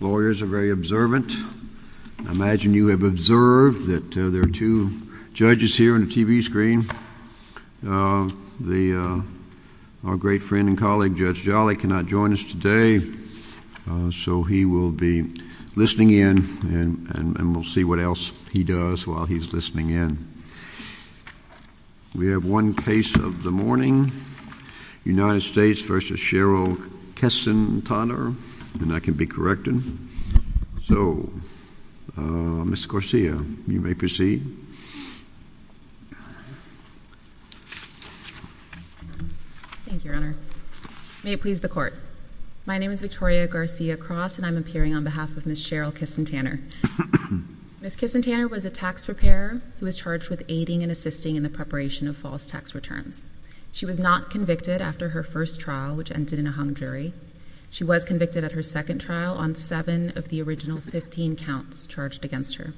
Lawyers are very observant. I imagine you have observed that there are two judges here on the TV screen. Our great friend and colleague Judge Jolly cannot join us today, so he will be listening in and we'll see what else he does while he's listening in. We have one case of the morning, United States v. Cheryl Kissentaner, and I can be corrected. So, Ms. Garcia, you may proceed. Thank you, Your Honor. May it please the Court. My name is Victoria Garcia-Cross and I'm appearing on behalf of Ms. Cheryl Kissentaner. Ms. Kissentaner was a tax preparer who was charged with aiding and assisting in the preparation of false tax returns. She was not convicted after her first trial, which ended in a hung jury. She was convicted at her second trial on seven of the original 15 counts charged against her.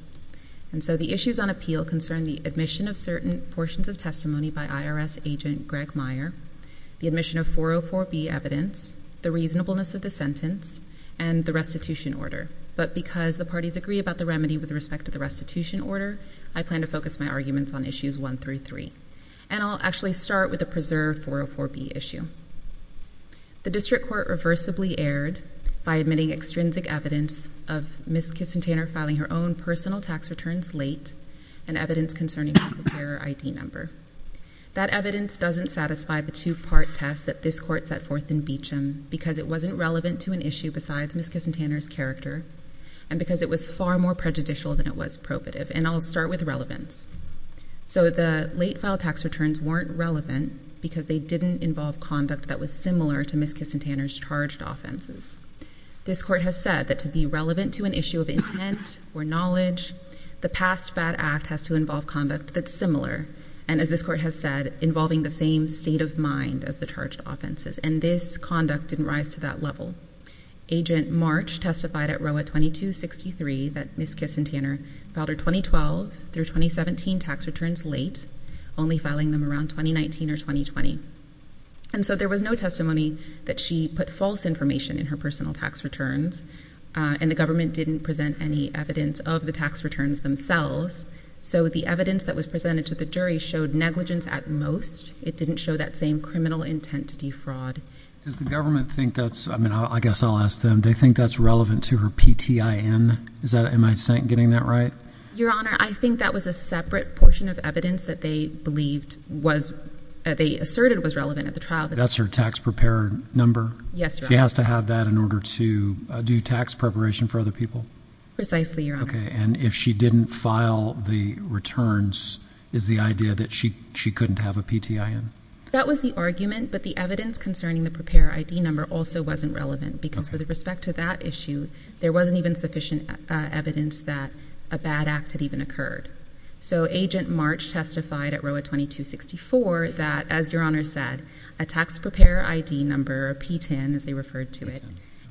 And so the issues on appeal concern the admission of certain portions of testimony by IRS agent Greg Meyer, the admission of 404B evidence, the reasonableness of the sentence, and the restitution order, but because the parties agree about the remedy with respect to the restitution order, I plan to focus my arguments on issues 1 through 3. And I'll actually start with the preserved 404B issue. The district court reversibly erred by admitting extrinsic evidence of Ms. Kissentaner filing her own personal tax returns late and evidence concerning her preparer ID number. That evidence doesn't satisfy the two-part test that this court set forth in Beecham because it wasn't relevant to an issue besides Ms. Kissentaner's character and because it was far more prejudicial than it was probative. And I'll start with relevance. So the late filed tax returns weren't relevant because they didn't involve conduct that was similar to Ms. Kissentaner's charged offenses. This court has said that to be relevant to an issue of intent or knowledge, the past bad act has to involve conduct that's similar and, as this court has said, involving the same state of mind as the charged offenses. And this conduct didn't rise to that level. Agent March testified at Roa 2263 that Ms. Kissentaner filed her 2012 through 2017 tax returns late, only filing them around 2019 or 2020. And so there was no testimony that she put false information in her personal tax returns, and the government didn't present any evidence of the tax returns themselves. So the evidence that was presented to the jury showed negligence at most. It didn't show that same criminal intent to defraud. Does the government think that's, I mean, I guess I'll ask them, they think that's relevant to her PTIN? Am I getting that right? Your Honor, I think that was a separate portion of evidence that they believed was, that they asserted was relevant at the trial. That's her tax preparer number? Yes, Your Honor. She has to have that in order to do tax preparation for other people? Precisely, Your Honor. Okay, and if she didn't file the returns, is the idea that she couldn't have a PTIN? That was the argument, but the evidence concerning the preparer ID number also wasn't relevant, because with respect to that issue, there wasn't even sufficient evidence that a bad act had even occurred. So Agent March testified at Roa 2264 that, as Your Honor said, a tax preparer ID number, a PTIN as they referred to it,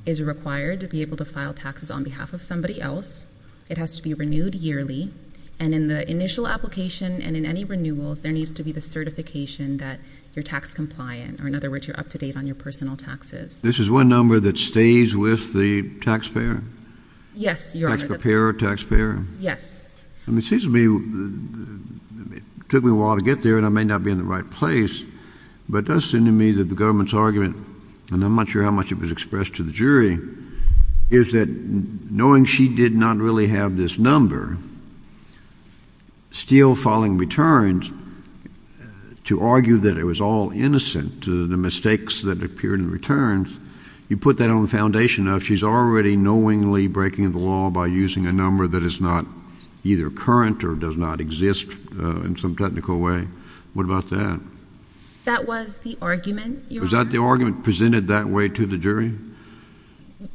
is required to be able to file taxes on behalf of somebody else. It has to be renewed yearly, and in the initial application and in any renewals, there needs to be the certification that you're tax compliant, or in other words, you're up to date on your personal taxes. This is one number that stays with the taxpayer? Yes, Your Honor. Tax preparer, taxpayer? Yes. It seems to me, it took me a while to get there, and I may not be in the right place, but it does seem to me that the government's argument, and I'm not sure how much it was expressed to the jury, is that knowing she did not really have this number, still filing returns to argue that it was all innocent to the mistakes that appeared in returns, you put that on the foundation of she's already knowingly breaking the law by using a number that is not either current or does not exist in some technical way. What about that? That was the argument, Your Honor. Was that the argument presented that way to the jury?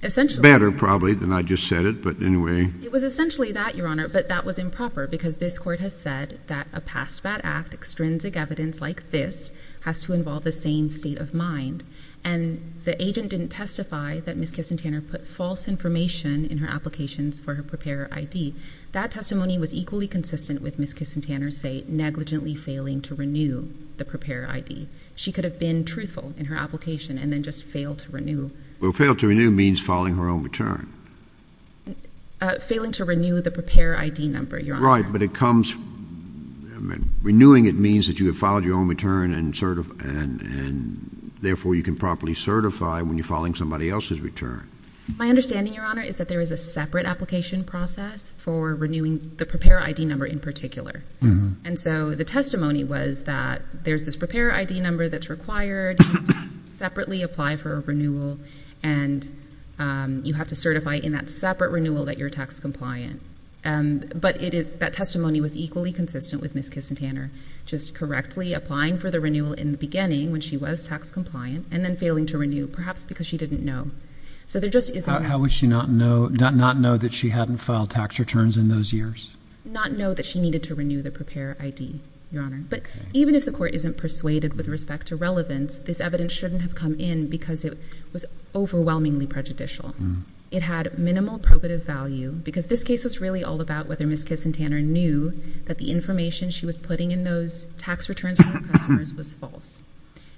Essentially. Better, probably, than I just said it, but anyway. It was essentially that, Your Honor, but that was improper, because this court has said that a past bad act, extrinsic evidence like this, has to involve the same state of mind, and the agent didn't testify that Ms. Kissentaner put false information in her applications for her preparer ID. That testimony was equally consistent with Ms. Kissentaner's, say, negligently failing to renew the preparer ID. She could have been truthful in her application and then just failed to renew. Well, failed to renew means filing her own return. Failing to renew the preparer ID number, Your Honor. Right, but it comes, renewing it means that you have filed your own return and therefore you can properly certify when you're filing somebody else's return. My understanding, Your Honor, is that there is a separate application process for renewing the preparer ID number in particular, and so the testimony was that there's this preparer ID number that's required, you separately apply for a renewal, and you have to certify in that separate renewal that you're tax compliant. But that testimony was equally consistent with Ms. Kissentaner, just correctly applying for the renewal in the beginning when she was tax compliant and then failing to renew, perhaps because she didn't know. How would she not know that she hadn't filed tax returns in those years? Not know that she needed to renew the preparer ID, Your Honor. But even if the court isn't persuaded with respect to relevance, this evidence shouldn't have come in because it was overwhelmingly prejudicial. It had minimal probative value, because this case was really all about whether Ms. Kissentaner knew that the information she was putting in those tax returns for her customers was false.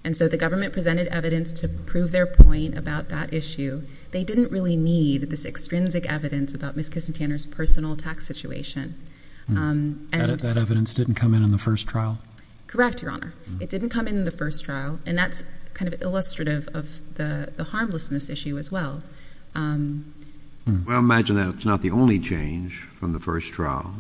And so the government presented evidence to prove their point about that issue. They didn't really need this extrinsic evidence about Ms. Kissentaner's personal tax situation. That evidence didn't come in in the first trial? Correct, Your Honor. It didn't come in in the first trial, and that's kind of illustrative of the harmlessness issue as well. Well, I imagine that's not the only change from the first trial.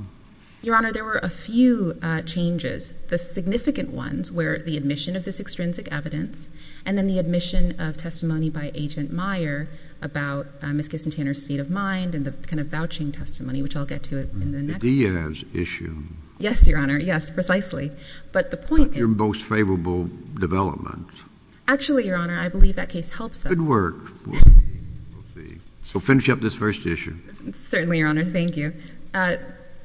Your Honor, there were a few changes. The significant ones were the admission of this extrinsic evidence and then the admission of testimony by Agent Meyer about Ms. Kissentaner's state of mind and the kind of vouching testimony, which I'll get to in the next... The Diaz issue. Yes, Your Honor, yes, precisely. But the point is... Not your most favorable development. Actually, Your Honor, I believe that case helps us. Good work. So finish up this first issue. Certainly, Your Honor, thank you.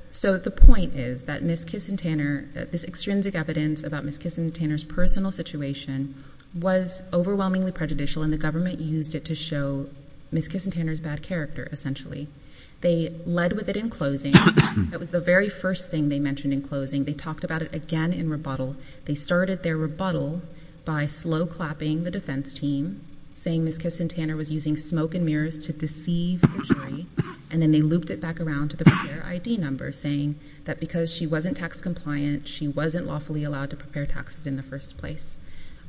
So the point is that Ms. Kissentaner, this extrinsic evidence about Ms. Kissentaner's personal situation was overwhelmingly prejudicial, and the government used it to show Ms. Kissentaner's bad character, essentially. They led with it in closing. That was the very first thing they mentioned in closing. They talked about it again in rebuttal. They started their rebuttal by slow clapping the defense team, saying Ms. Kissentaner was using smoke and mirrors to deceive the jury, and then they looped it back around to the prepare ID number, saying that because she wasn't tax compliant, she wasn't lawfully allowed to prepare taxes in the first place.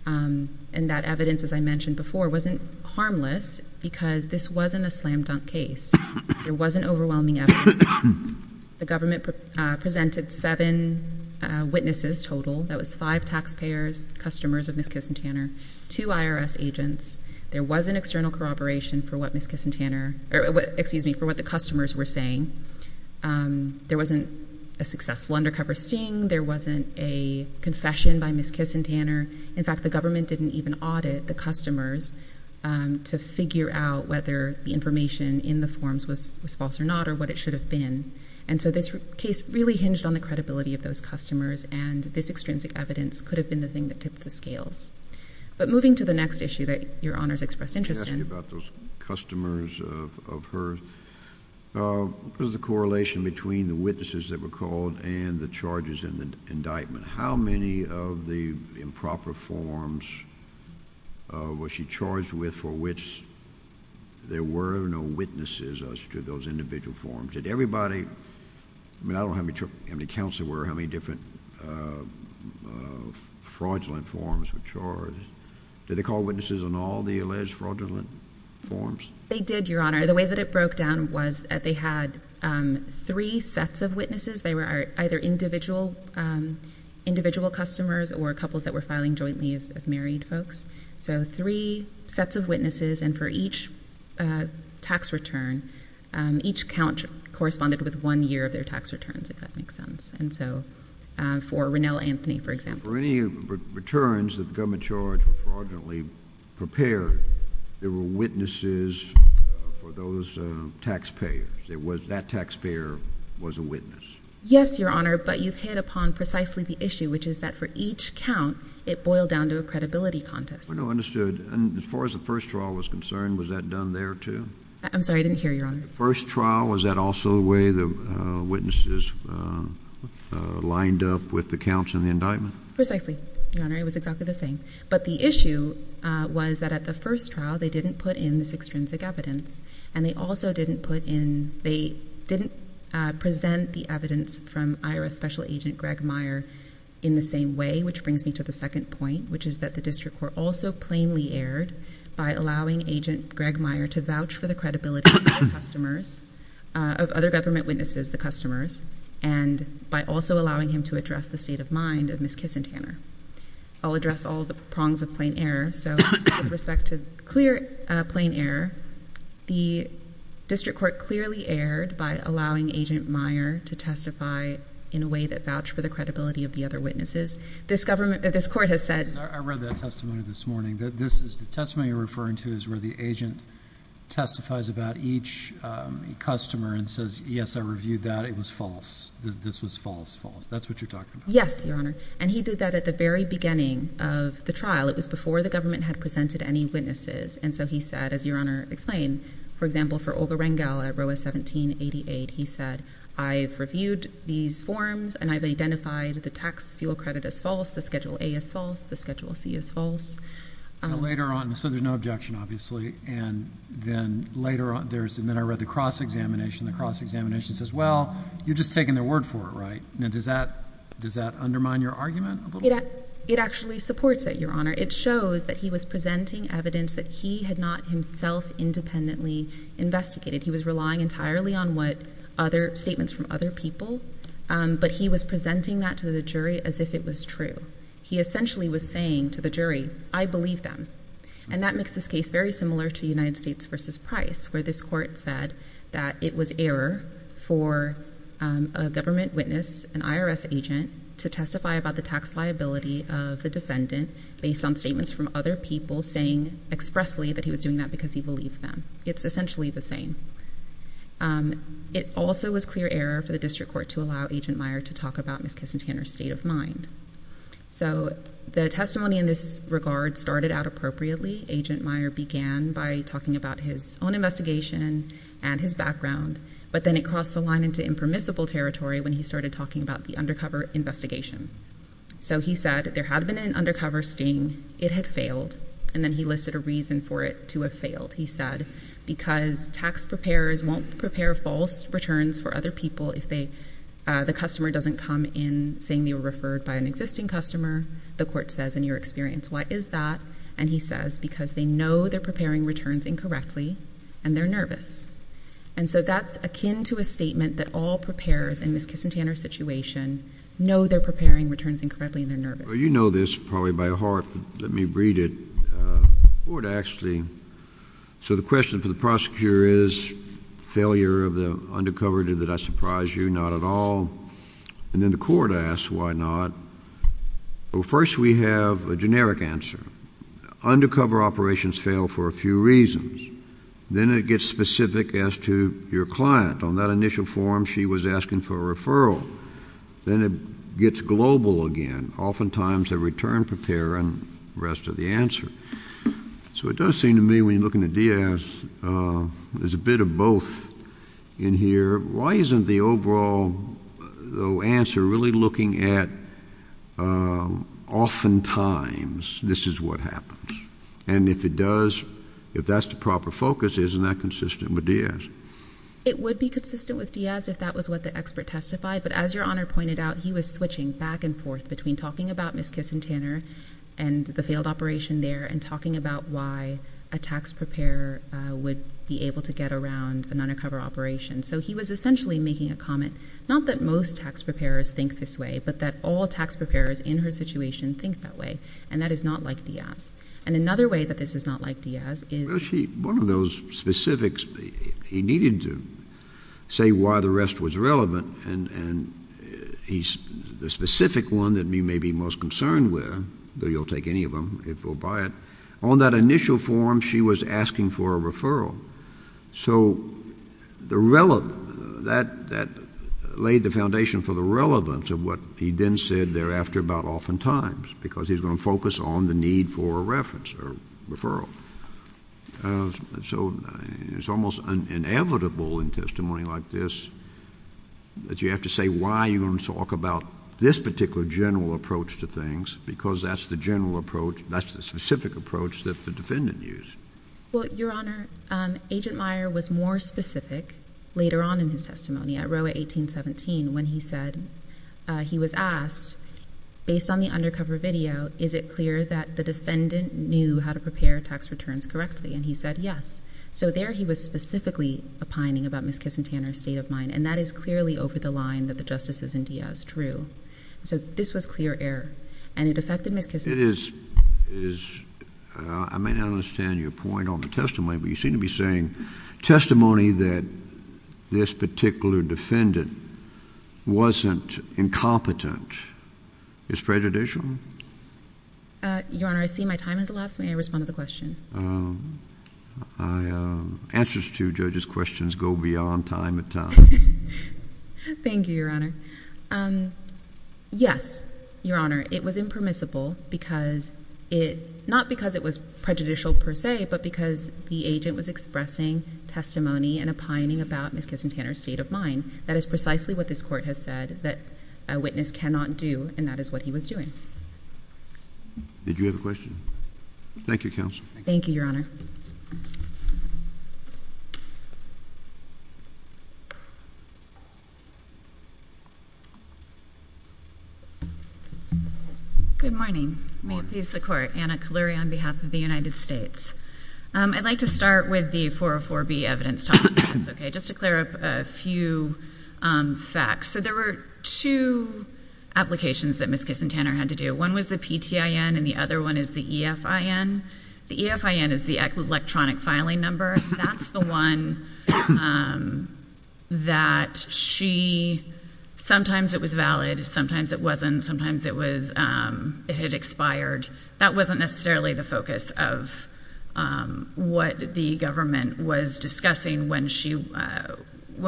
And that evidence, as I mentioned before, wasn't harmless because this wasn't a slam dunk case. There wasn't overwhelming evidence. The government presented seven witnesses total. That was five taxpayers, customers of Ms. Kissentaner, two IRS agents. There wasn't external corroboration for what Ms. Kissentaner... Excuse me, for what the customers were saying. There wasn't a successful undercover sting. There wasn't a confession by Ms. Kissentaner. In fact, the government didn't even audit the customers to figure out whether the information in the forms was false or not or what it should have been. And so this case really hinged on the credibility of those customers, and this extrinsic evidence could have been the thing that tipped the scales. But moving to the next issue that Your Honor's expressed interest in... I'm asking about those customers of hers. What was the correlation between the witnesses that were called and the charges in the indictment? How many of the improper forms was she charged with for which there were no witnesses as to those individual forms? Did everybody... I mean, I don't know how many counts there were, how many different fraudulent forms were charged. Did they call witnesses on all the alleged fraudulent forms? They did, Your Honor. The way that it broke down was that they had three sets of witnesses. They were either individual customers or couples that were filing jointly as married folks. So three sets of witnesses, and for each tax return, each count corresponded with one year of their tax returns, if that makes sense. And so for Rennell Anthony, for example. For any returns that the government charged with fraudulently prepared, there were witnesses for those taxpayers. That taxpayer was a witness. Yes, Your Honor, but you've hit upon precisely the issue, which is that for each count, it boiled down to a credibility contest. Understood. And as far as the first trial was concerned, was that done there too? I'm sorry, I didn't hear you, Your Honor. The first trial, was that also the way the witnesses lined up with the counts in the indictment? Precisely, Your Honor. It was exactly the same. But the issue was that at the first trial, they didn't put in this extrinsic evidence, and they also didn't present the evidence from IRS Special Agent Greg Meyer in the same way, which brings me to the second point, which is that the district court also plainly erred by allowing Agent Greg Meyer to vouch for the credibility of other government witnesses, the customers, and by also allowing him to address the state of mind of Ms. Kissentaner. I'll address all the prongs of plain error. So with respect to clear plain error, the district court clearly erred by allowing Agent Meyer to testify in a way that vouched for the credibility of the other witnesses. This government, this court has said. I read that testimony this morning. The testimony you're referring to is where the agent testifies about each customer and says, yes, I reviewed that. It was false. This was false. False. That's what you're talking about. Yes, Your Honor. And he did that at the very beginning of the trial. It was before the government had presented any witnesses. And so he said, as Your Honor explained, for example, for Olga Rengel at row 1788, he said, I've reviewed these forms and I've identified the tax fuel credit as false. The schedule A is false. The schedule C is false. Later on, so there's no objection, obviously. And then later on, and then I read the cross-examination. The cross-examination says, well, you're just taking their word for it, right? Does that undermine your argument a little bit? It actually supports it, Your Honor. It shows that he was presenting evidence that he had not himself independently investigated. He was relying entirely on statements from other people. But he was presenting that to the jury as if it was true. He essentially was saying to the jury, I believe them. And that makes this case very similar to United States v. Price, where this court said that it was error for a government witness, an IRS agent, to testify about the tax liability of the defendant based on statements from other people saying expressly that he was doing that because he believed them. It's essentially the same. It also was clear error for the district court to allow Agent Meyer to talk about Ms. Kissentaner's state of mind. So the testimony in this regard started out appropriately. Agent Meyer began by talking about his own investigation and his background. But then it crossed the line into impermissible territory when he started talking about the undercover investigation. So he said there had been an undercover sting. It had failed. And then he listed a reason for it to have failed. He said because tax preparers won't prepare false returns for other people if the customer doesn't come in saying they were referred by an existing customer. The court says, in your experience, what is that? And he says because they know they're preparing returns incorrectly and they're nervous. And so that's akin to a statement that all preparers in Ms. Kissentaner's situation know they're preparing returns incorrectly and they're nervous. Well, you know this probably by heart. Let me read it. The court actually. So the question for the prosecutor is failure of the undercover. Did that surprise you? Not at all. And then the court asks why not. Well, first we have a generic answer. Undercover operations fail for a few reasons. Then it gets specific as to your client. On that initial form she was asking for a referral. Then it gets global again. Oftentimes the return preparer and the rest of the answer. So it does seem to me when you're looking at Diaz, there's a bit of both in here. Why isn't the overall answer really looking at oftentimes this is what happens? And if it does, if that's the proper focus, isn't that consistent with Diaz? It would be consistent with Diaz if that was what the expert testified. But as Your Honor pointed out, he was switching back and forth between talking about Ms. Kissentaner and the failed operation there and talking about why a tax preparer would be able to get around an undercover operation. So he was essentially making a comment, not that most tax preparers think this way, but that all tax preparers in her situation think that way. And that is not like Diaz. And another way that this is not like Diaz is— One of those specifics he needed to say why the rest was relevant, and the specific one that you may be most concerned with, though you'll take any of them if we'll buy it, on that initial form she was asking for a referral. So that laid the foundation for the relevance of what he then said thereafter about oftentimes because he's going to focus on the need for a reference or referral. So it's almost inevitable in testimony like this that you have to say why you're going to talk about this particular general approach to things because that's the general approach, that's the specific approach that the defendant used. Well, Your Honor, Agent Meyer was more specific later on in his testimony at Roe v. 1817 when he said he was asked, based on the undercover video, is it clear that the defendant knew how to prepare tax returns correctly? And he said yes. So there he was specifically opining about Ms. Kissentaner's state of mind, and that is clearly over the line that the justices in Diaz drew. So this was clear error, and it affected Ms. Kissentaner. It is—I may not understand your point on the testimony, but you seem to be saying testimony that this particular defendant wasn't incompetent is prejudicial? Your Honor, I see my time has elapsed. May I respond to the question? Answers to judges' questions go beyond time and time. Thank you, Your Honor. Yes, Your Honor, it was impermissible because it— not because it was prejudicial per se, but because the agent was expressing testimony and opining about Ms. Kissentaner's state of mind. That is precisely what this Court has said that a witness cannot do, and that is what he was doing. Did you have a question? Thank you, Counsel. Thank you, Your Honor. Good morning. May it please the Court. Anna Kaleri on behalf of the United States. I'd like to start with the 404B evidence topic, if that's okay, just to clear up a few facts. So there were two applications that Ms. Kissentaner had to do. One was the PTIN, and the other one is the EFIN. The EFIN is the electronic filing number. That's the one that she—sometimes it was valid, sometimes it wasn't, sometimes it had expired. That wasn't necessarily the focus of what the government was discussing when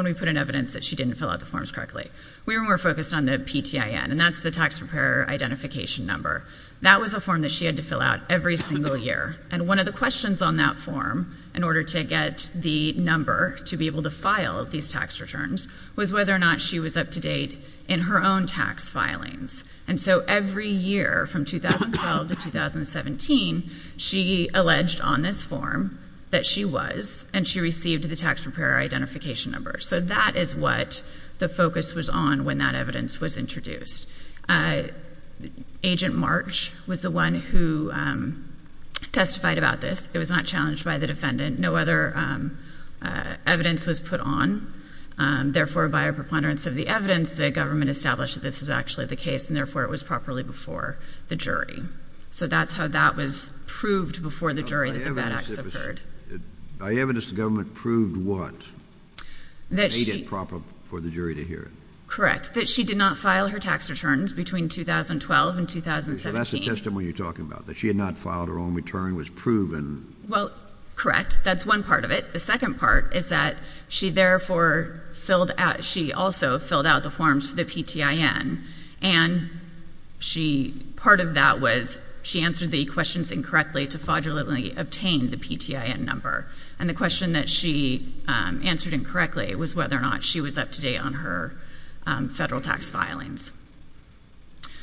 we put in evidence that she didn't fill out the forms correctly. We were more focused on the PTIN, and that's the tax preparer identification number. That was a form that she had to fill out every single year. And one of the questions on that form, in order to get the number to be able to file these tax returns, was whether or not she was up to date in her own tax filings. And so every year from 2012 to 2017, she alleged on this form that she was, and she received the tax preparer identification number. So that is what the focus was on when that evidence was introduced. Agent March was the one who testified about this. It was not challenged by the defendant. No other evidence was put on. Therefore, by a preponderance of the evidence, the government established that this was actually the case, and therefore it was properly before the jury. So that's how that was proved before the jury that the bad acts occurred. By evidence, the government proved what? That she— Made it proper for the jury to hear it. Correct. That she did not file her tax returns between 2012 and 2017. So that's the testimony you're talking about, that she had not filed her own return, was proven. Well, correct. That's one part of it. The second part is that she therefore filled out, she also filled out the forms for the PTIN. And she, part of that was she answered the questions incorrectly to fraudulently obtain the PTIN number. And the question that she answered incorrectly was whether or not she was up to date on her federal tax filings.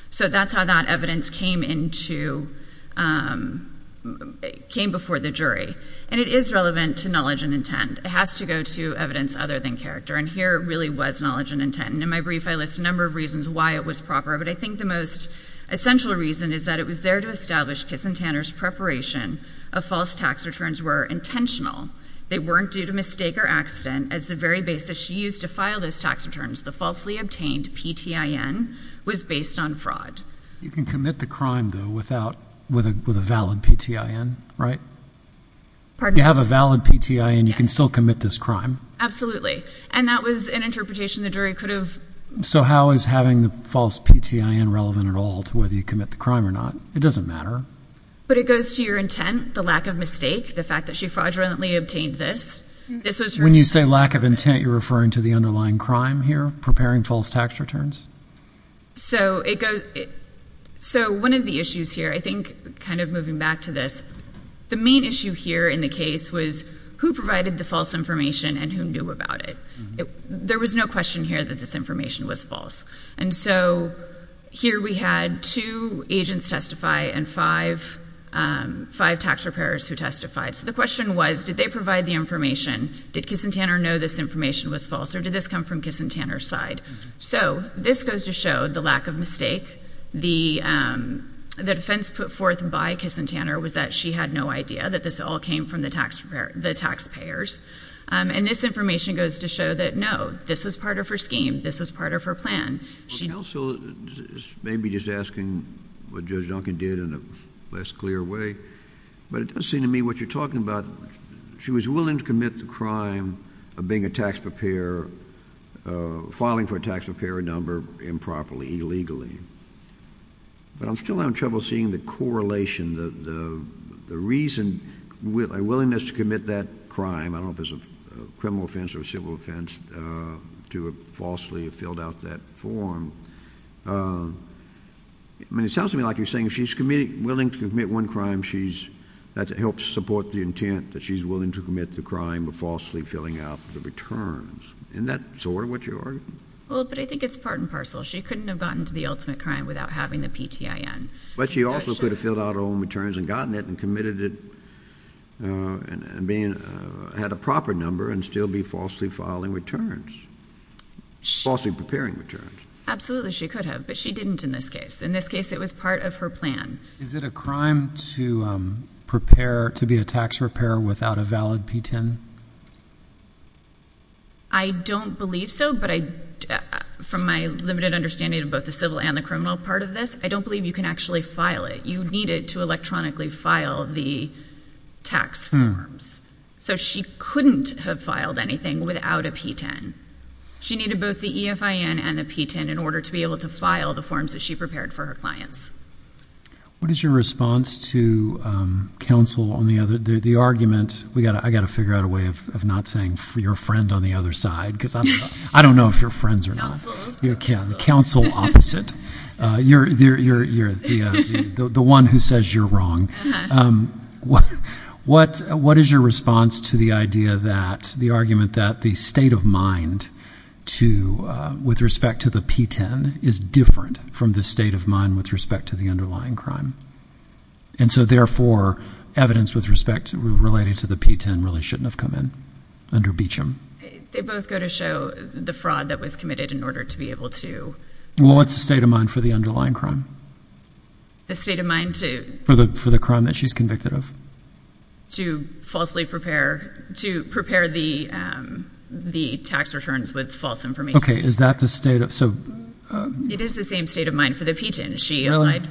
So that's how that evidence came into, came before the jury. And it is relevant to knowledge and intent. It has to go to evidence other than character. And here really was knowledge and intent. And in my brief, I list a number of reasons why it was proper. But I think the most essential reason is that it was there to establish Kiss and Tanner's preparation of false tax returns were intentional. They weren't due to mistake or accident. As the very basis she used to file those tax returns, the falsely obtained PTIN was based on fraud. You can commit the crime, though, without, with a valid PTIN, right? Pardon? You have a valid PTIN. Yes. You can still commit this crime. Absolutely. And that was an interpretation the jury could have— So how is having the false PTIN relevant at all to whether you commit the crime or not? It doesn't matter. But it goes to your intent, the lack of mistake, the fact that she fraudulently obtained this. When you say lack of intent, you're referring to the underlying crime here, preparing false tax returns? So one of the issues here, I think, kind of moving back to this, the main issue here in the case was who provided the false information and who knew about it. There was no question here that this information was false. And so here we had two agents testify and five tax preparers who testified. So the question was, did they provide the information? Did Kissentaner know this information was false or did this come from Kissentaner's side? So this goes to show the lack of mistake. The defense put forth by Kissentaner was that she had no idea that this all came from the taxpayers. And this information goes to show that, no, this was part of her scheme. This was part of her plan. Counsel may be just asking what Judge Duncan did in a less clear way, but it does seem to me what you're talking about, she was willing to commit the crime of being a tax preparer, filing for a tax preparer number improperly, illegally. But I'm still having trouble seeing the correlation, the reason, a willingness to commit that crime. I don't know if it's a criminal offense or a civil offense to have falsely filled out that form. I mean, it sounds to me like you're saying if she's willing to commit one crime, that helps support the intent that she's willing to commit the crime of falsely filling out the returns. Isn't that sort of what you're arguing? Well, but I think it's part and parcel. She couldn't have gotten to the ultimate crime without having the PTIN. But she also could have filled out her own returns and gotten it and committed it and had a proper number and still be falsely filing returns, falsely preparing returns. Absolutely, she could have, but she didn't in this case. In this case, it was part of her plan. Is it a crime to prepare to be a tax preparer without a valid PTIN? I don't believe so, but from my limited understanding of both the civil and the criminal part of this, I don't believe you can actually file it. You need it to electronically file the tax forms. So she couldn't have filed anything without a PTIN. She needed both the EFIN and the PTIN in order to be able to file the forms that she prepared for her clients. What is your response to counsel on the argument, I've got to figure out a way of not saying your friend on the other side because I don't know if you're friends or not. Counsel opposite. Counsel opposite. The one who says you're wrong. What is your response to the idea that the argument that the state of mind with respect to the PTIN is different from the state of mind with respect to the underlying crime? And so therefore, evidence with respect relating to the PTIN really shouldn't have come in under Beecham. They both go to show the fraud that was committed in order to be able to. Well, what's the state of mind for the underlying crime? The state of mind to. For the crime that she's convicted of. To falsely prepare, to prepare the tax returns with false information. Okay, is that the state of, so. It is the same state of mind for the PTIN. She applied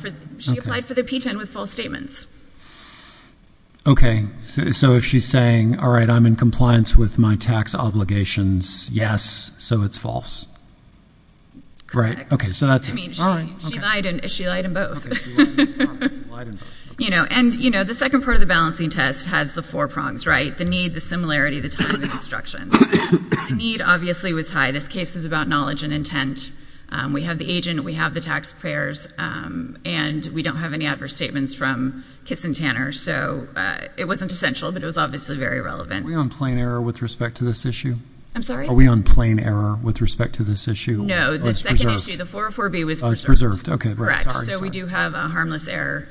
for the PTIN with false statements. Okay, so if she's saying, all right, I'm in compliance with my tax obligations, yes, so it's false. Correct. Okay, so that's it. She lied in both. And, you know, the second part of the balancing test has the four prongs, right, the need, the similarity, the time and instruction. The need obviously was high. This case is about knowledge and intent. We have the agent, we have the taxpayers, and we don't have any adverse statements from Kiss and Tanner. So it wasn't essential, but it was obviously very relevant. Are we on plain error with respect to this issue? I'm sorry? Are we on plain error with respect to this issue? No, the second issue, the 404B was preserved. Okay, correct. So we do have a harmless error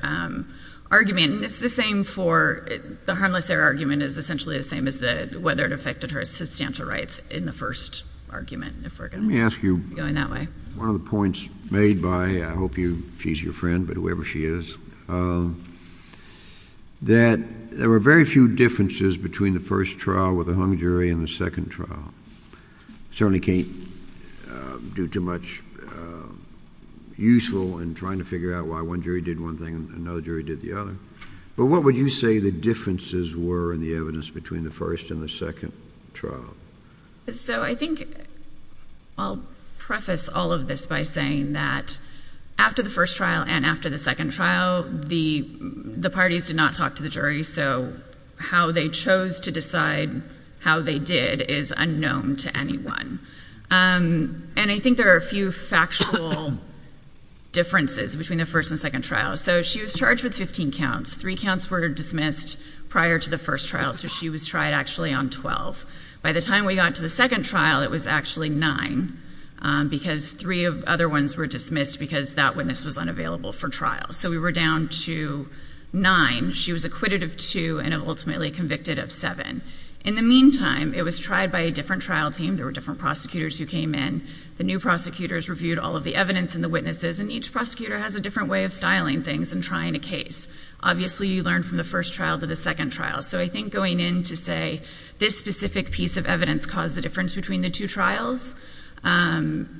argument. It's the same for, the harmless error argument is essentially the same as whether it affected her substantial rights in the first argument. Let me ask you one of the points made by, I hope she's your friend, but whoever she is, that there were very few differences between the first trial with the hung jury and the second trial. Certainly can't do too much useful in trying to figure out why one jury did one thing and another jury did the other. But what would you say the differences were in the evidence between the first and the second trial? So I think I'll preface all of this by saying that after the first trial and after the second trial, the parties did not talk to the jury, so how they chose to decide how they did is unknown to anyone. And I think there are a few factual differences between the first and second trial. So she was charged with 15 counts. Three counts were dismissed prior to the first trial, so she was tried actually on 12. By the time we got to the second trial, it was actually nine, because three of the other ones were dismissed because that witness was unavailable for trial. So we were down to nine. She was acquitted of two and ultimately convicted of seven. In the meantime, it was tried by a different trial team. There were different prosecutors who came in. The new prosecutors reviewed all of the evidence and the witnesses, and each prosecutor has a different way of styling things and trying a case. Obviously, you learn from the first trial to the second trial. So I think going in to say this specific piece of evidence caused the difference between the two trials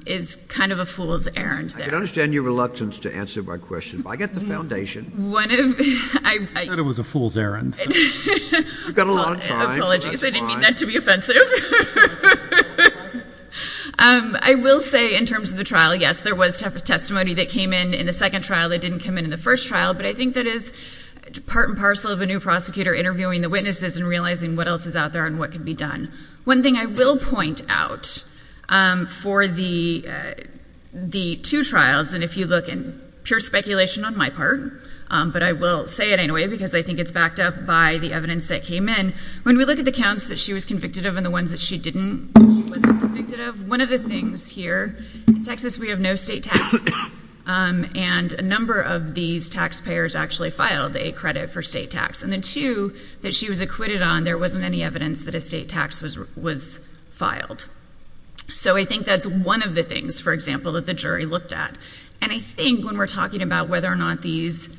is kind of a fool's errand there. I can understand your reluctance to answer my question, but I get the foundation. You said it was a fool's errand. You've got a long time, so that's fine. Apologies, I didn't mean that to be offensive. I will say in terms of the trial, yes, there was testimony that came in in the second trial that didn't come in in the first trial, but I think that is part and parcel of a new prosecutor interviewing the witnesses and realizing what else is out there and what can be done. One thing I will point out for the two trials, and if you look in pure speculation on my part, but I will say it anyway because I think it's backed up by the evidence that came in, when we look at the counts that she was convicted of and the ones that she wasn't convicted of, one of the things here, in Texas we have no state tax, and a number of these taxpayers actually filed a credit for state tax. And the two that she was acquitted on, there wasn't any evidence that a state tax was filed. So I think that's one of the things, for example, that the jury looked at. And I think when we're talking about whether or not these,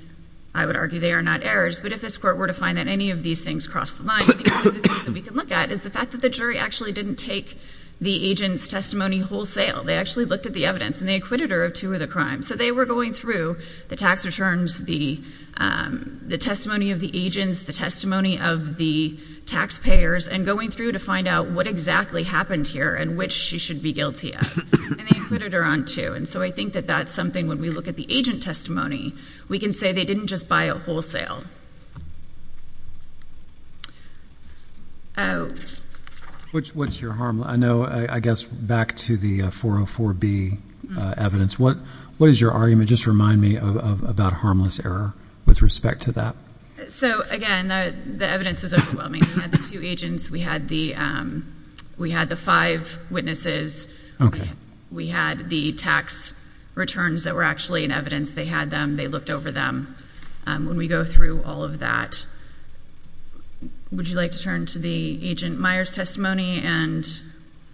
I would argue they are not errors, but if this Court were to find that any of these things cross the line, one of the things that we can look at is the fact that the jury actually didn't take the agent's testimony wholesale. They actually looked at the evidence, and they acquitted her of two of the crimes. So they were going through the tax returns, the testimony of the agents, the testimony of the taxpayers, and going through to find out what exactly happened here and which she should be guilty of. And they acquitted her on two. And so I think that that's something, when we look at the agent testimony, we can say they didn't just buy it wholesale. What's your harm? I know, I guess, back to the 404B evidence, what is your argument? Just remind me about harmless error with respect to that. So, again, the evidence is overwhelming. We had the two agents. We had the five witnesses. Okay. We had the tax returns that were actually in evidence. They had them. They looked over them. When we go through all of that, would you like to turn to the agent Myers' testimony and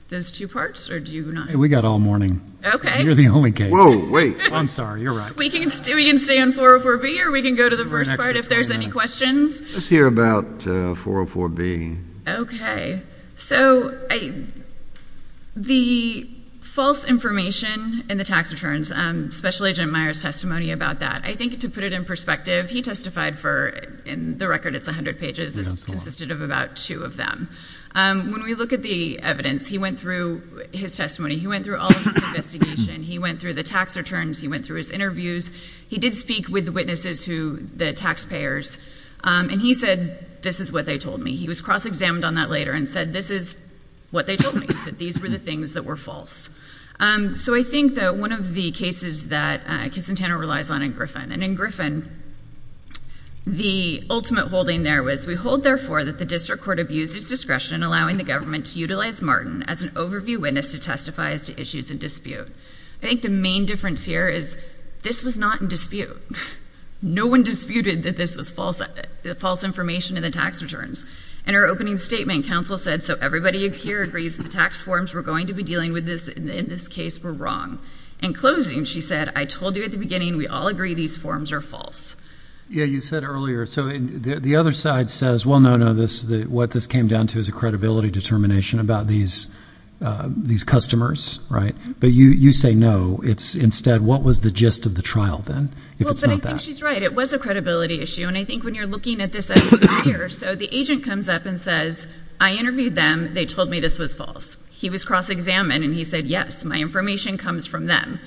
those two parts, or do you not? We've got all morning. Okay. You're the only case. Whoa, wait. I'm sorry. You're right. We can stay on 404B, or we can go to the first part if there's any questions. Let's hear about 404B. Okay. So the false information in the tax returns, Special Agent Myers' testimony about that, I think to put it in perspective, he testified for, in the record, it's 100 pages. It consisted of about two of them. When we look at the evidence, he went through his testimony. He went through all of his investigation. He went through the tax returns. He went through his interviews. He did speak with the witnesses, the taxpayers, and he said, this is what they told me. He was cross-examined on that later and said, this is what they told me, that these were the things that were false. So I think that one of the cases that Kissantana relies on in Griffin, and in Griffin, the ultimate holding there was, we hold, therefore, that the district court abused its discretion in allowing the government to utilize Martin as an overview witness to testify as to issues in dispute. I think the main difference here is this was not in dispute. No one disputed that this was false information in the tax returns. In her opening statement, counsel said, so everybody here agrees that the tax forms we're going to be dealing with in this case were wrong. In closing, she said, I told you at the beginning, we all agree these forms are false. Yeah, you said earlier. So the other side says, well, no, no, what this came down to is a credibility determination about these customers, right? But you say no. Instead, what was the gist of the trial then, if it's not that? Well, but I think she's right. It was a credibility issue. And I think when you're looking at this evidence here, so the agent comes up and says, I interviewed them. They told me this was false. He was cross-examined, and he said, yes, my information comes from them.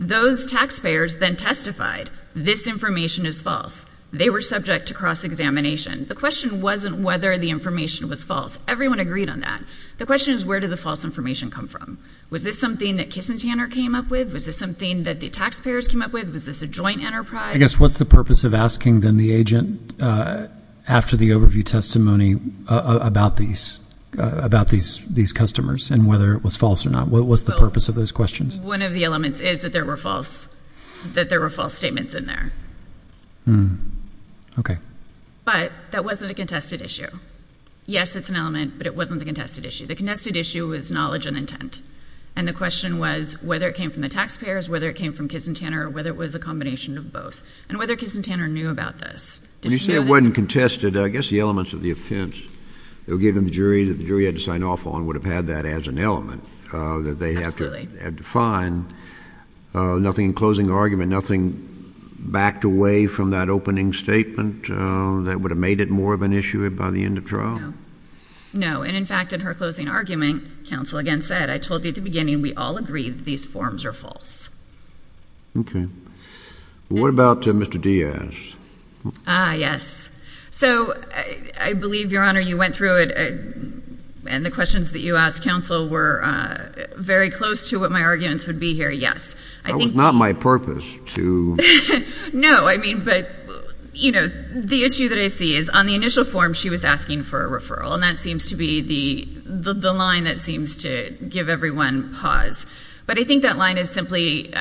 Those taxpayers then testified, this information is false. They were subject to cross-examination. The question wasn't whether the information was false. Everyone agreed on that. The question is, where did the false information come from? Was this something that Kiss and Tanner came up with? Was this something that the taxpayers came up with? Was this a joint enterprise? I guess what's the purpose of asking then the agent after the overview testimony about these customers and whether it was false or not? What was the purpose of those questions? One of the elements is that there were false statements in there. Okay. But that wasn't a contested issue. Yes, it's an element, but it wasn't a contested issue. The contested issue was knowledge and intent, and the question was whether it came from the taxpayers, whether it came from Kiss and Tanner, or whether it was a combination of both, and whether Kiss and Tanner knew about this. When you say it wasn't contested, I guess the elements of the offense that were given to the jury that the jury had to sign off on would have had that as an element that they had to find. Nothing in closing argument, nothing backed away from that opening statement that would have made it more of an issue by the end of trial? No. No. And, in fact, in her closing argument, counsel again said, I told you at the beginning we all agreed that these forms are false. Okay. What about Mr. Diaz? Ah, yes. So I believe, Your Honor, you went through it, and the questions that you asked counsel were very close to what my arguments would be here. Yes. That was not my purpose to... And that seems to be the line that seems to give everyone pause. But I think that line is simply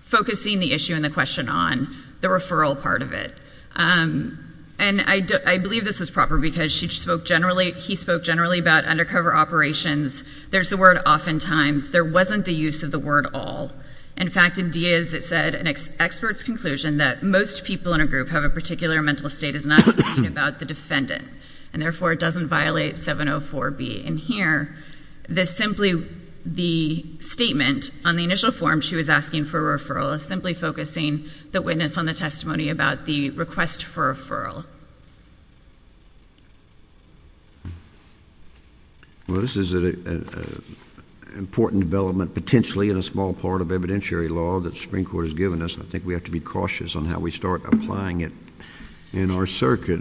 focusing the issue and the question on the referral part of it. And I believe this was proper because he spoke generally about undercover operations. There's the word oftentimes. There wasn't the use of the word all. In fact, in Diaz, it said, an expert's conclusion that most people in a group have a particular mental state is not about the defendant. And, therefore, it doesn't violate 704B. And here, simply the statement on the initial form she was asking for a referral is simply focusing the witness on the testimony about the request for a referral. Well, this is an important development potentially in a small part of evidentiary law that the Supreme Court has given us. I think we have to be cautious on how we start applying it in our circuit.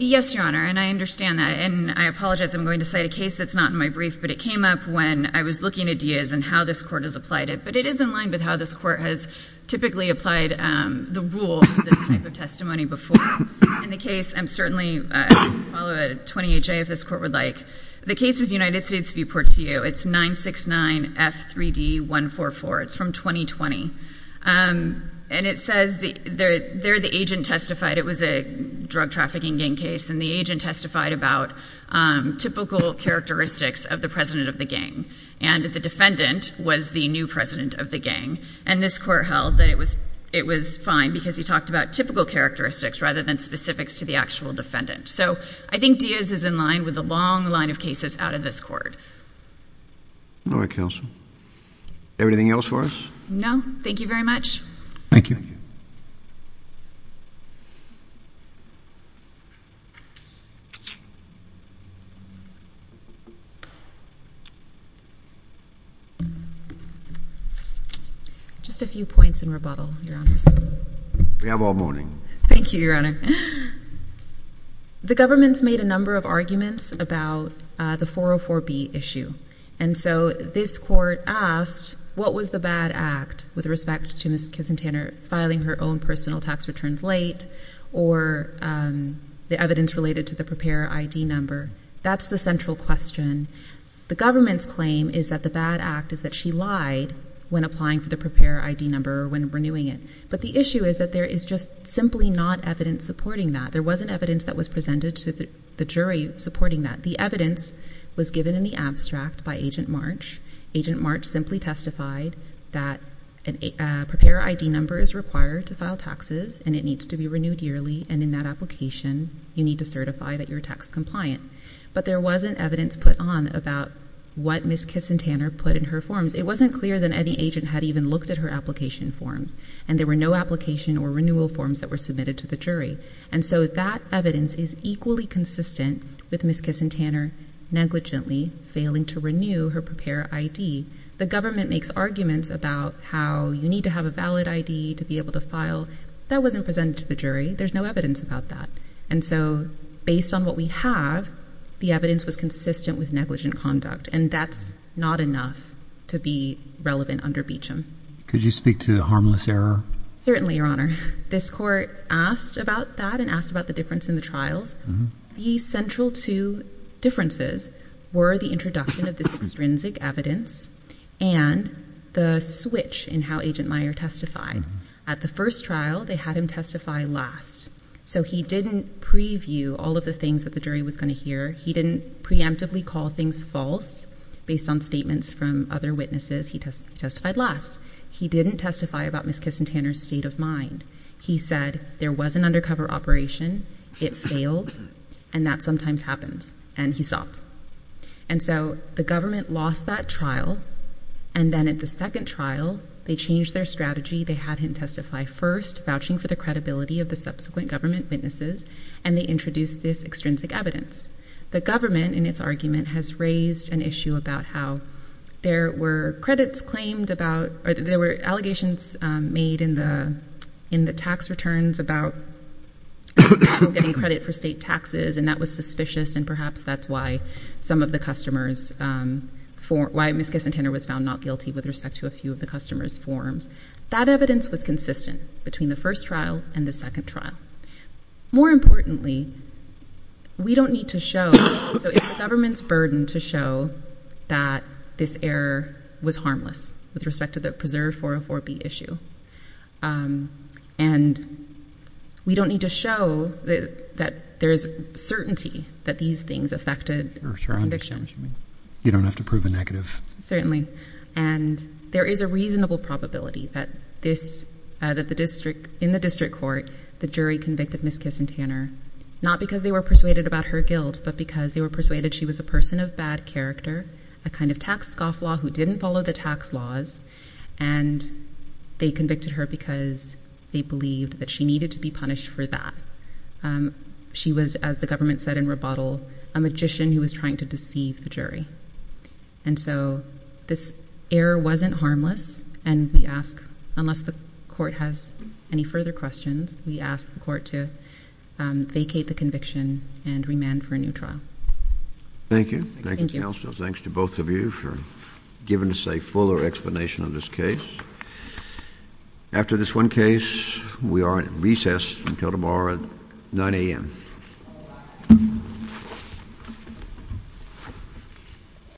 Yes, Your Honor, and I understand that. And I apologize. I'm going to cite a case that's not in my brief. But it came up when I was looking at Diaz and how this Court has applied it. But it is in line with how this Court has typically applied the rule of this type of testimony before. In the case, I'm certainly going to follow it, 20HA, if this Court would like. The case is United States v. Portillo. It's 969F3D144. It's from 2020. And it says there the agent testified. It was a drug trafficking gang case. And the agent testified about typical characteristics of the president of the gang. And the defendant was the new president of the gang. And this Court held that it was fine because he talked about typical characteristics rather than specifics to the actual defendant. So I think Diaz is in line with a long line of cases out of this Court. All right, counsel. Anything else for us? No. Thank you very much. Thank you. Just a few points in rebuttal, Your Honors. We have all morning. Thank you, Your Honor. The government's made a number of arguments about the 404B issue. And so this Court asked what was the bad act with respect to Ms. Kisentaner filing her own personal tax returns late or the evidence related to the preparer ID number. That's the central question. The government's claim is that the bad act is that she lied when applying for the preparer ID number or when renewing it. But the issue is that there is just simply not evidence supporting that. There wasn't evidence that was presented to the jury supporting that. The evidence was given in the abstract by Agent March. Agent March simply testified that a preparer ID number is required to file taxes, and it needs to be renewed yearly, and in that application, you need to certify that you're tax compliant. But there wasn't evidence put on about what Ms. Kisentaner put in her forms. It wasn't clear that any agent had even looked at her application forms, and there were no application or renewal forms that were submitted to the jury. And so that evidence is equally consistent with Ms. Kisentaner negligently failing to renew her preparer ID. The government makes arguments about how you need to have a valid ID to be able to file. That wasn't presented to the jury. There's no evidence about that. And so based on what we have, the evidence was consistent with negligent conduct, and that's not enough to be relevant under Beecham. Could you speak to the harmless error? Certainly, Your Honor. This court asked about that and asked about the difference in the trials. The central two differences were the introduction of this extrinsic evidence and the switch in how Agent Meyer testified. At the first trial, they had him testify last. So he didn't preview all of the things that the jury was going to hear. He didn't preemptively call things false based on statements from other witnesses he testified last. He didn't testify about Ms. Kisentaner's state of mind. He said there was an undercover operation, it failed, and that sometimes happens, and he stopped. And so the government lost that trial, and then at the second trial, they changed their strategy. They had him testify first, vouching for the credibility of the subsequent government witnesses, and they introduced this extrinsic evidence. The government, in its argument, has raised an issue about how there were credits claimed about or there were allegations made in the tax returns about people getting credit for state taxes, and that was suspicious, and perhaps that's why some of the customers formed or why Ms. Kisentaner was found not guilty with respect to a few of the customers' forms. That evidence was consistent between the first trial and the second trial. More importantly, we don't need to show, so it's the government's burden to show that this error was harmless with respect to the preserve 404B issue, and we don't need to show that there is certainty that these things affected the conviction. You don't have to prove the negative. And there is a reasonable probability that in the district court, the jury convicted Ms. Kisentaner, not because they were persuaded about her guilt, but because they were persuaded she was a person of bad character, a kind of tax scofflaw who didn't follow the tax laws, and they convicted her because they believed that she needed to be punished for that. She was, as the government said in rebuttal, a magician who was trying to deceive the jury. And so this error wasn't harmless, and we ask, unless the court has any further questions, we ask the court to vacate the conviction and remand for a new trial. Thank you. Thank you, counsel. Thanks to both of you for giving us a fuller explanation of this case. After this one case, we are at recess until tomorrow at 9 a.m.